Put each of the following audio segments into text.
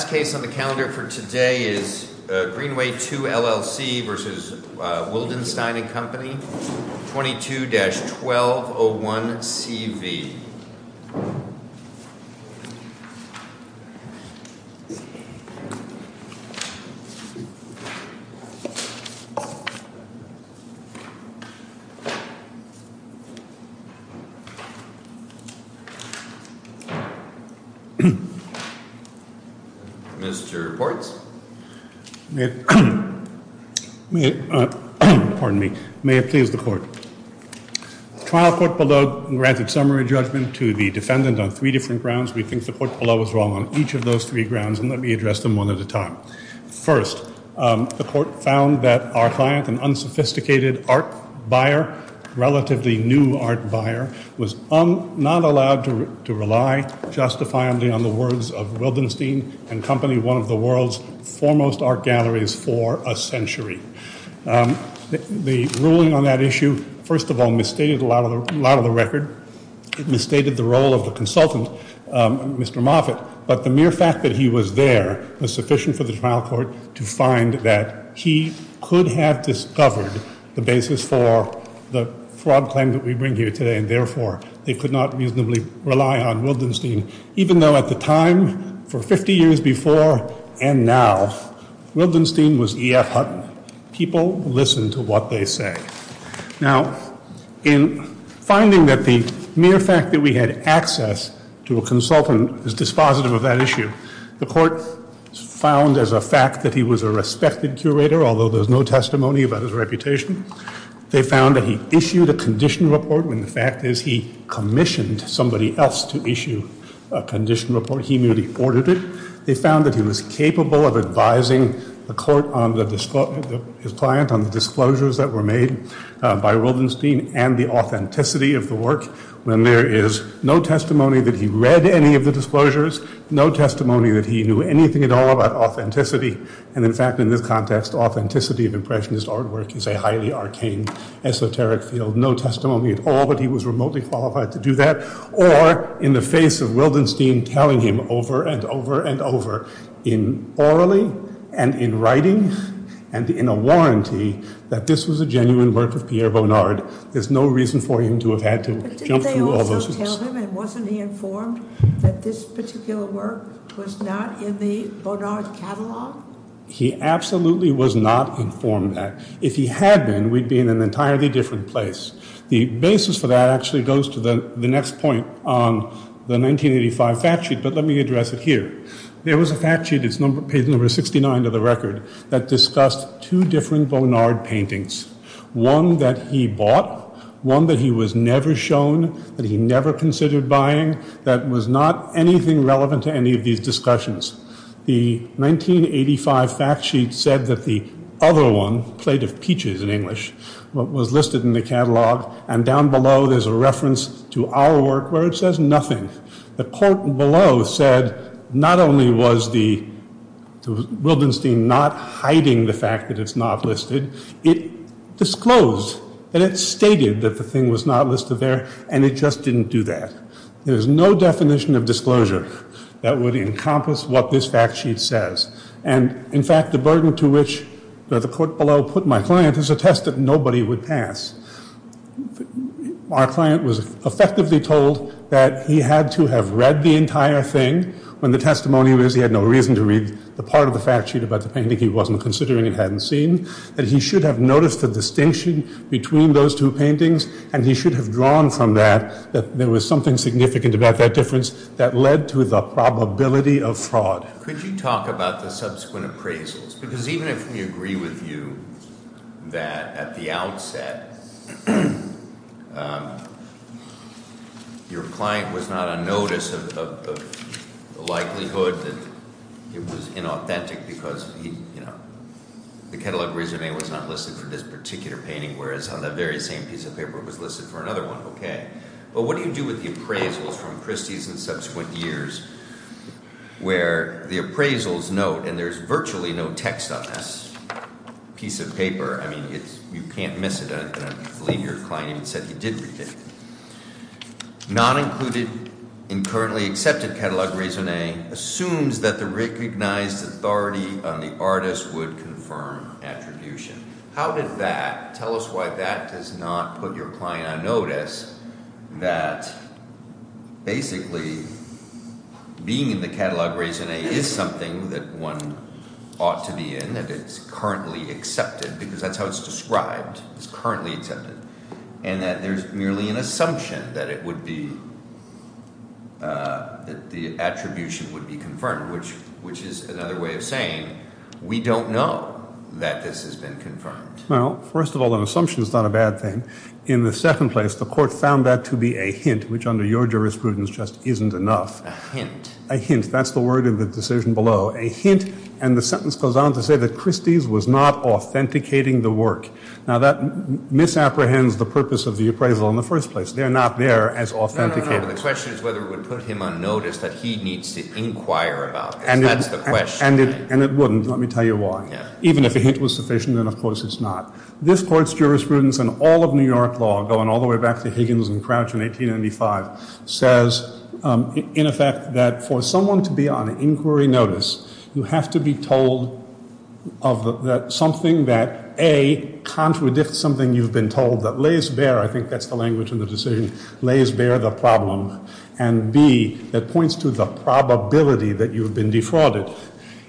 The last case on the calendar for today is Greenway II, LLC v. Wildenstein & Co., 22-1201CV. Mr. Portz. Pardon me. May it please the Court. The trial court below granted summary judgment to the defendant on three different grounds. We think the court below was wrong on each of those three grounds, and let me address them one at a time. First, the court found that our client, an unsophisticated art buyer, relatively new art buyer, was not allowed to rely justifiably on the words of Wildenstein & Co., one of the world's foremost art galleries for a century. The ruling on that issue, first of all, misstated a lot of the record. It misstated the role of the consultant, Mr. Moffitt, but the mere fact that he was there was sufficient for the trial court to find that he could have discovered the basis for the fraud claim that we bring here today, and therefore, they could not reasonably rely on Wildenstein, even though at the time, for 50 years before and now, Wildenstein was E.F. Hutton. People listen to what they say. Now, in finding that the mere fact that we had access to a consultant is dispositive of that issue, the court found as a fact that he was a respected curator, although there's no testimony about his reputation. They found that he issued a condition report when the fact is he commissioned somebody else to issue a condition report. He merely ordered it. They found that he was capable of advising his client on the disclosures that were made by Wildenstein and the authenticity of the work when there is no testimony that he read any of the disclosures, no testimony that he knew anything at all about authenticity, and in fact, in this context, authenticity of Impressionist artwork is a highly arcane, esoteric field, no testimony at all that he was remotely qualified to do that, or in the face of Wildenstein telling him over and over and over in orally and in writing and in a warranty that this was a genuine work of Pierre Bonnard, there's no reason for him to have had to jump through all those hoops. But didn't they also tell him and wasn't he informed that this particular work was not in the Bonnard catalogue? He absolutely was not informed that. If he had been, we'd be in an entirely different place. The basis for that actually goes to the next point on the 1985 fact sheet, but let me address it here. There was a fact sheet, it's page number 69 of the record, that discussed two different Bonnard paintings, one that he bought, one that he was never shown, that he never considered buying, that was not anything relevant to any of these discussions. The 1985 fact sheet said that the other one, Plate of Peaches in English, was listed in the catalogue and down below there's a reference to our work where it says nothing. The quote below said not only was Wildenstein not hiding the fact that it's not listed, it disclosed that it stated that the thing was not listed there and it just didn't do that. There's no definition of disclosure that would encompass what this fact sheet says. And, in fact, the burden to which the quote below put my client is a test that nobody would pass. Our client was effectively told that he had to have read the entire thing. When the testimony was he had no reason to read the part of the fact sheet about the painting he wasn't considering, he hadn't seen, that he should have noticed the distinction between those two paintings and he should have drawn from that that there was something significant about that difference that led to the probability of fraud. Could you talk about the subsequent appraisals? Because even if we agree with you that at the outset your client was not on notice of the likelihood that it was inauthentic because the catalogue resume was not listed for this particular painting whereas on that very same piece of paper it was listed for another one. But what do you do with the appraisals from Christie's and subsequent years where the appraisals note and there's virtually no text on this piece of paper. I mean, you can't miss it. I believe your client even said he did read it. Not included in currently accepted catalogue resume assumes that the recognized authority on the artist would confirm attribution. How did that, tell us why that does not put your client on notice that basically being in the catalogue resume is something that one ought to be in, that it's currently accepted because that's how it's described. It's currently accepted. And that there's merely an assumption that it would be, that the attribution would be confirmed which is another way of saying we don't know that this has been confirmed. Well, first of all, an assumption is not a bad thing. In the second place, the court found that to be a hint which under your jurisprudence just isn't enough. A hint. A hint. That's the word of the decision below. A hint and the sentence goes on to say that Christie's was not authenticating the work. Now that misapprehends the purpose of the appraisal in the first place. They're not there as authenticators. The question is whether it would put him on notice that he needs to inquire about this. That's the question. And it wouldn't. Let me tell you why. Even if a hint was sufficient, then of course it's not. This Court's jurisprudence and all of New York law going all the way back to Higgins and Crouch in 1895 says in effect that for someone to be on inquiry notice, you have to be told of something that A, contradicts something you've been told that lays bare, I think that's the language of the decision, lays bare the problem, and B, that points to the probability that you've been defrauded.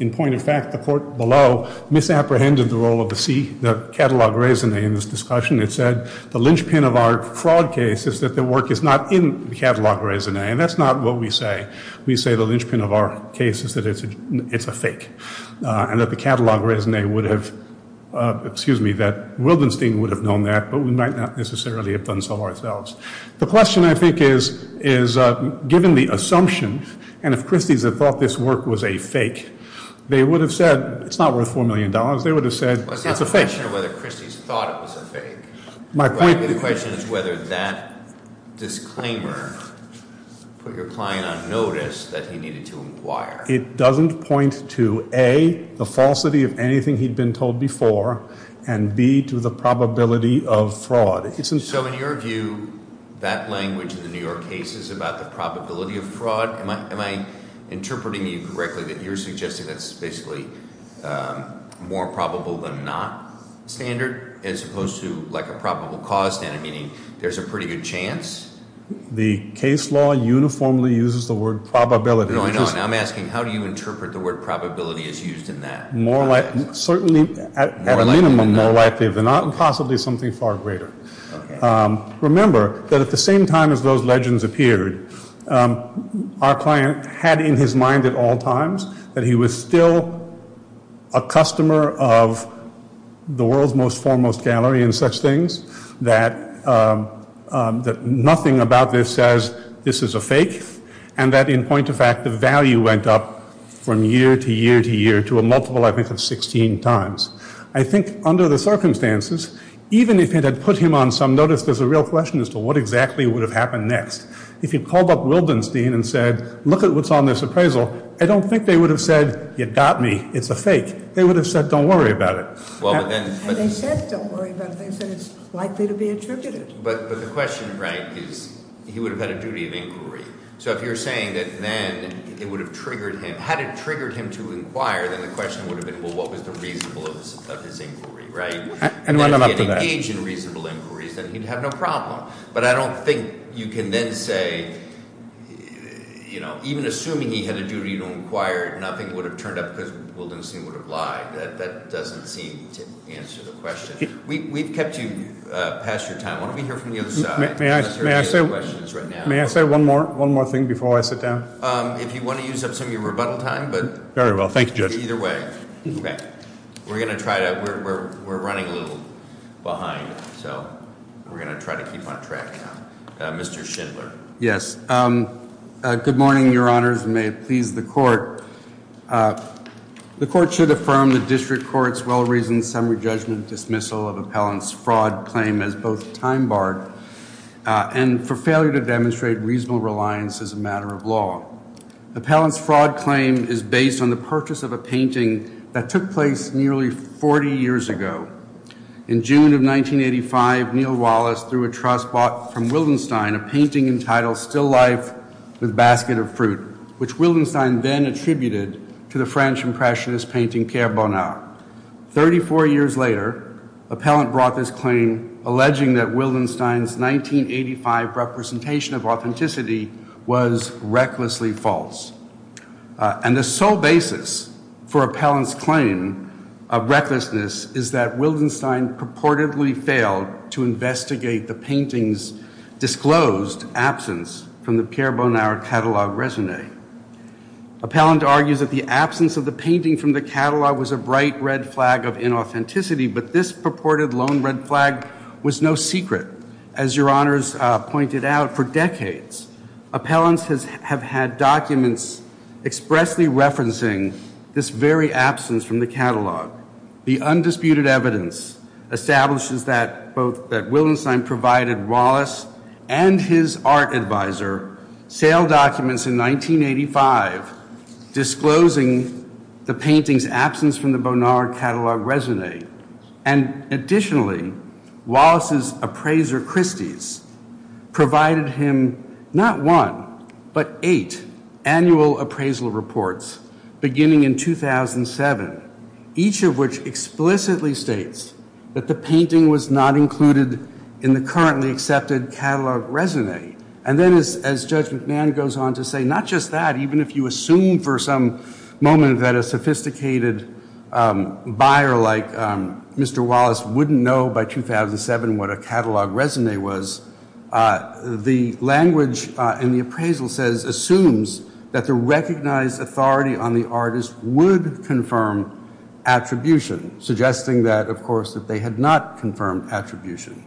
In point of fact, the Court below misapprehended the role of the C, the catalogue raisonne in this discussion. It said the linchpin of our fraud case is that the work is not in the catalogue raisonne. And that's not what we say. We say the linchpin of our case is that it's a fake. And that the catalogue raisonne would have, excuse me, that Wildenstein would have known that, but we might not necessarily have done so ourselves. The question, I think, is given the assumption, and if Christie's had thought this work was a fake, they would have said it's not worth $4 million. They would have said it's a fake. It's not a question of whether Christie's thought it was a fake. My point... The question is whether that disclaimer put your client on notice that he needed to inquire. It doesn't point to A, the falsity of anything he'd been told before, and B, to the probability of fraud. So in your view, that language in the New York case is about the probability of fraud? Am I interpreting you correctly that you're suggesting that's basically more probable than not standard, as opposed to like a probable cause standard, meaning there's a pretty good chance? The case law uniformly uses the word probability. No, I know. Now I'm asking, how do you interpret the word probability is used in that? Certainly, at a minimum, more likely than not, and possibly something far greater. Remember that at the same time as those legends appeared, our client had in his mind at all times that he was still a customer of the world's most foremost gallery in such things, that nothing about this says this is a fake, and that in point of fact, the value went up from year to year to year to a multiple, I think, of 16 times. I think under the circumstances, even if it had put him on some notice, there's a real question as to what exactly would have happened next. If you called up Wildenstein and said, look at what's on this appraisal, I don't think they would have said, you got me, it's a fake. They would have said, don't worry about it. And they said, don't worry about it. They said it's likely to be attributed. But the question, Frank, is he would have had a duty of inquiry. So if you're saying that then it would have triggered him, had it triggered him to inquire, then the question would have been, well, what was the reasonableness of his inquiry, right? And then if he had engaged in reasonable inquiries, then he'd have no problem. But I don't think you can then say, you know, even assuming he had a duty to inquire, nothing would have turned up because Wildenstein would have lied. That doesn't seem to answer the question. We've kept you past your time. Why don't we hear from the other side? May I say one more thing before I sit down? If you want to use up some of your rebuttal time. Very well. Thank you, Judge. Either way. Okay. We're going to try to, we're running a little behind, so we're going to try to keep on track now. Mr. Schindler. Yes. Good morning, Your Honors, and may it please the Court. The Court should affirm the District Court's well-reasoned summary judgment dismissal of Appellant's fraud claim as both time-barred and for failure to demonstrate reasonable reliance as a matter of law. Appellant's fraud claim is based on the purchase of a painting that took place nearly 40 years ago. In June of 1985, Neal Wallace threw a trust bought from Wildenstein, a painting entitled Still Life with Basket of Fruit, which Wildenstein then attributed to the French Impressionist painting Pierre Bonnard. Thirty-four years later, Appellant brought this claim, alleging that Wildenstein's 1985 representation of authenticity was recklessly false. And the sole basis for Appellant's claim of recklessness is that Wildenstein purportedly failed to investigate the painting's disclosed absence from the Pierre Bonnard catalogue résumé. Appellant argues that the absence of the painting from the catalogue was a bright red flag of inauthenticity, but this purported lone red flag was no secret. As Your Honors pointed out, for decades, Appellants have had documents expressly referencing this very absence from the catalogue. The undisputed evidence establishes that Wildenstein provided Wallace and his art advisor sale documents in 1985 disclosing the painting's absence from the Bonnard catalogue résumé. And additionally, Wallace's appraiser, Christie's, provided him not one, but eight annual appraisal reports beginning in 2007. Each of which explicitly states that the painting was not included in the currently accepted catalogue résumé. And then as Judge McMahon goes on to say, not just that, even if you assume for some moment that a sophisticated buyer like Mr. Wallace wouldn't know by 2007 what a catalogue résumé was, the language in the appraisal assumes that the recognized authority on the artist would confirm attribution, suggesting that, of course, that they had not confirmed attribution.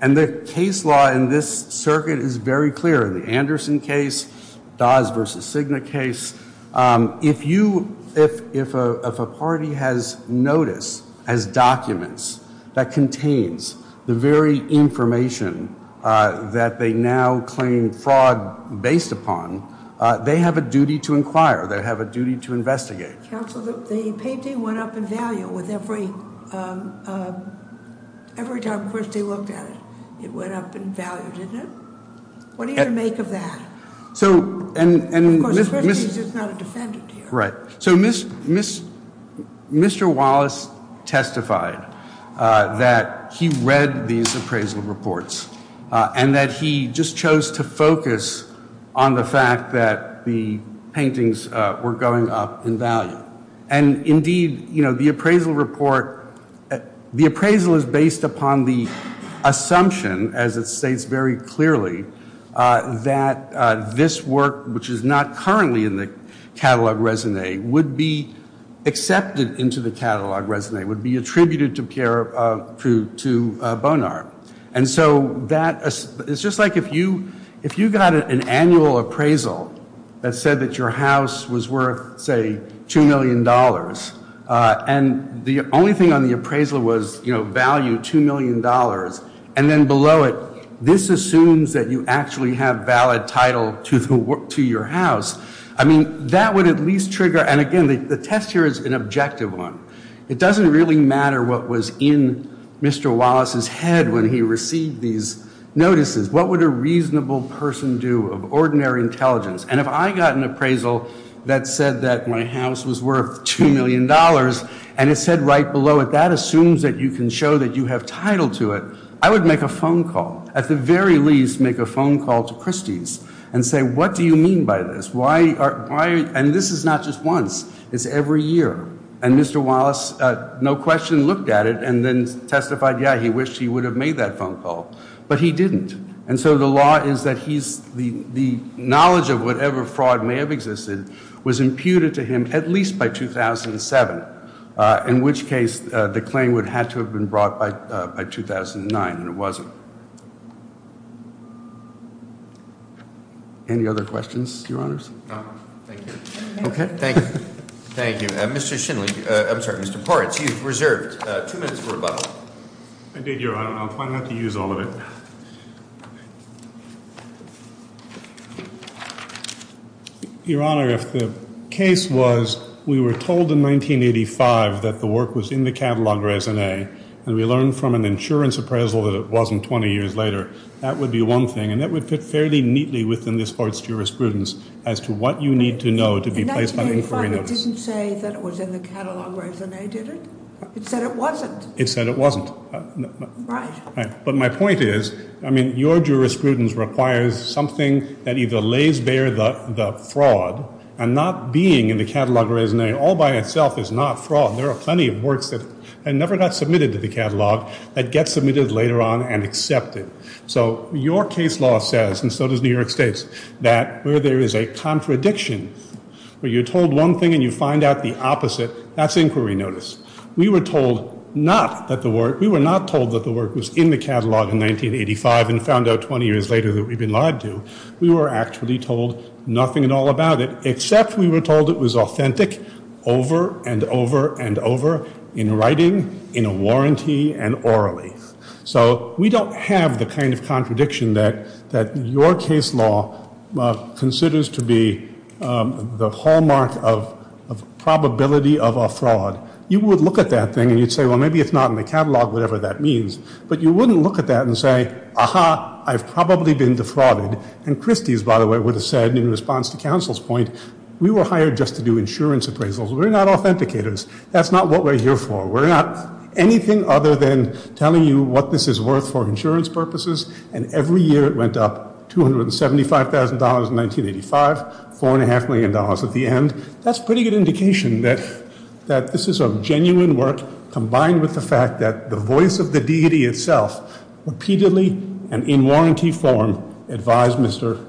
And the case law in this circuit is very clear. In the Anderson case, Dawes v. Cigna case, if a party has notice as documents that contains the very information that they now claim fraud based upon, they have a duty to inquire. They have a duty to investigate. Counsel, the painting went up in value with every time Christie looked at it. It went up in value, didn't it? What do you make of that? Of course, Christie's is not a defendant here. Right. So Mr. Wallace testified that he read these appraisal reports and that he just chose to focus on the fact that the paintings were going up in value. And indeed, you know, the appraisal report, the appraisal is based upon the assumption, as it states very clearly, that this work, which is not currently in the catalog resume, would be accepted into the catalog resume, would be attributed to Bonar. And so that is just like if you got an annual appraisal that said that your house was worth, say, $2 million, and the only thing on the appraisal was, you know, value $2 million, and then below it this assumes that you actually have valid title to your house. I mean, that would at least trigger, and again, the test here is an objective one. It doesn't really matter what was in Mr. Wallace's head when he received these notices. What would a reasonable person do of ordinary intelligence? And if I got an appraisal that said that my house was worth $2 million and it said right below it that assumes that you can show that you have title to it, I would make a phone call, at the very least make a phone call to Christie's and say, What do you mean by this? Why are, and this is not just once. It's every year. And Mr. Wallace, no question, looked at it and then testified, yeah, he wished he would have made that phone call. But he didn't. And so the law is that he's, the knowledge of whatever fraud may have existed was imputed to him at least by 2007, in which case the claim would have had to have been brought by 2009, and it wasn't. Any other questions, Your Honors? Thank you. Okay. Thank you. Thank you. Mr. Shinley, I'm sorry, Mr. Poritz, you've reserved two minutes for rebuttal. I did, Your Honor, and I'll try not to use all of it. Your Honor, if the case was we were told in 1985 that the work was in the catalogue raisonne, and we learned from an insurance appraisal that it wasn't 20 years later, that would be one thing, and that would fit fairly neatly within this Court's jurisprudence as to what you need to know to be placed by inquiriness. In 1985 it didn't say that it was in the catalogue raisonne, did it? It said it wasn't. It said it wasn't. Right. But my point is, I mean, your jurisprudence requires something that either lays bare the fraud and not being in the catalogue raisonne all by itself is not fraud. There are plenty of works that never got submitted to the catalogue that get submitted later on and accepted. So your case law says, and so does New York State's, that where there is a contradiction, where you're told one thing and you find out the opposite, that's inquiry notice. We were told not that the work, we were not told that the work was in the catalogue in 1985 and found out 20 years later that we'd been lied to. We were actually told nothing at all about it, except we were told it was authentic over and over and over in writing, in a warranty, and orally. So we don't have the kind of contradiction that your case law considers to be the hallmark of probability of a fraud. You would look at that thing and you'd say, well, maybe it's not in the catalogue, whatever that means. But you wouldn't look at that and say, aha, I've probably been defrauded. And Christie's, by the way, would have said in response to counsel's point, we were hired just to do insurance appraisals. We're not authenticators. That's not what we're here for. We're not anything other than telling you what this is worth for insurance purposes. And every year it went up $275,000 in 1985, $4.5 million at the end. That's a pretty good indication that this is a genuine work combined with the fact that the voice of the deity itself repeatedly and in warranty form advised Mr.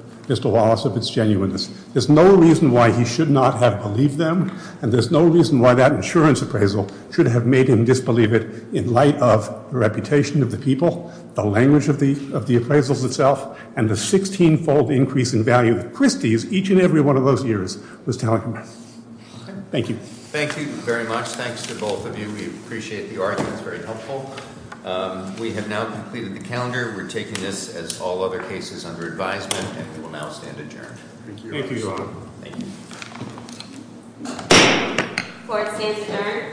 Wallace of its genuineness. There's no reason why he should not have believed them, and there's no reason why that insurance appraisal should have made him disbelieve it in light of the reputation of the people, the language of the appraisals itself, and the 16-fold increase in value that Christie's each and every one of those years was telling him. Thank you. Thank you very much. Thanks to both of you. We appreciate the argument. It's very helpful. We have now completed the calendar. We're taking this as all other cases under advisement, and we will now stand adjourned. Thank you, Your Honor. Thank you. Court is adjourned.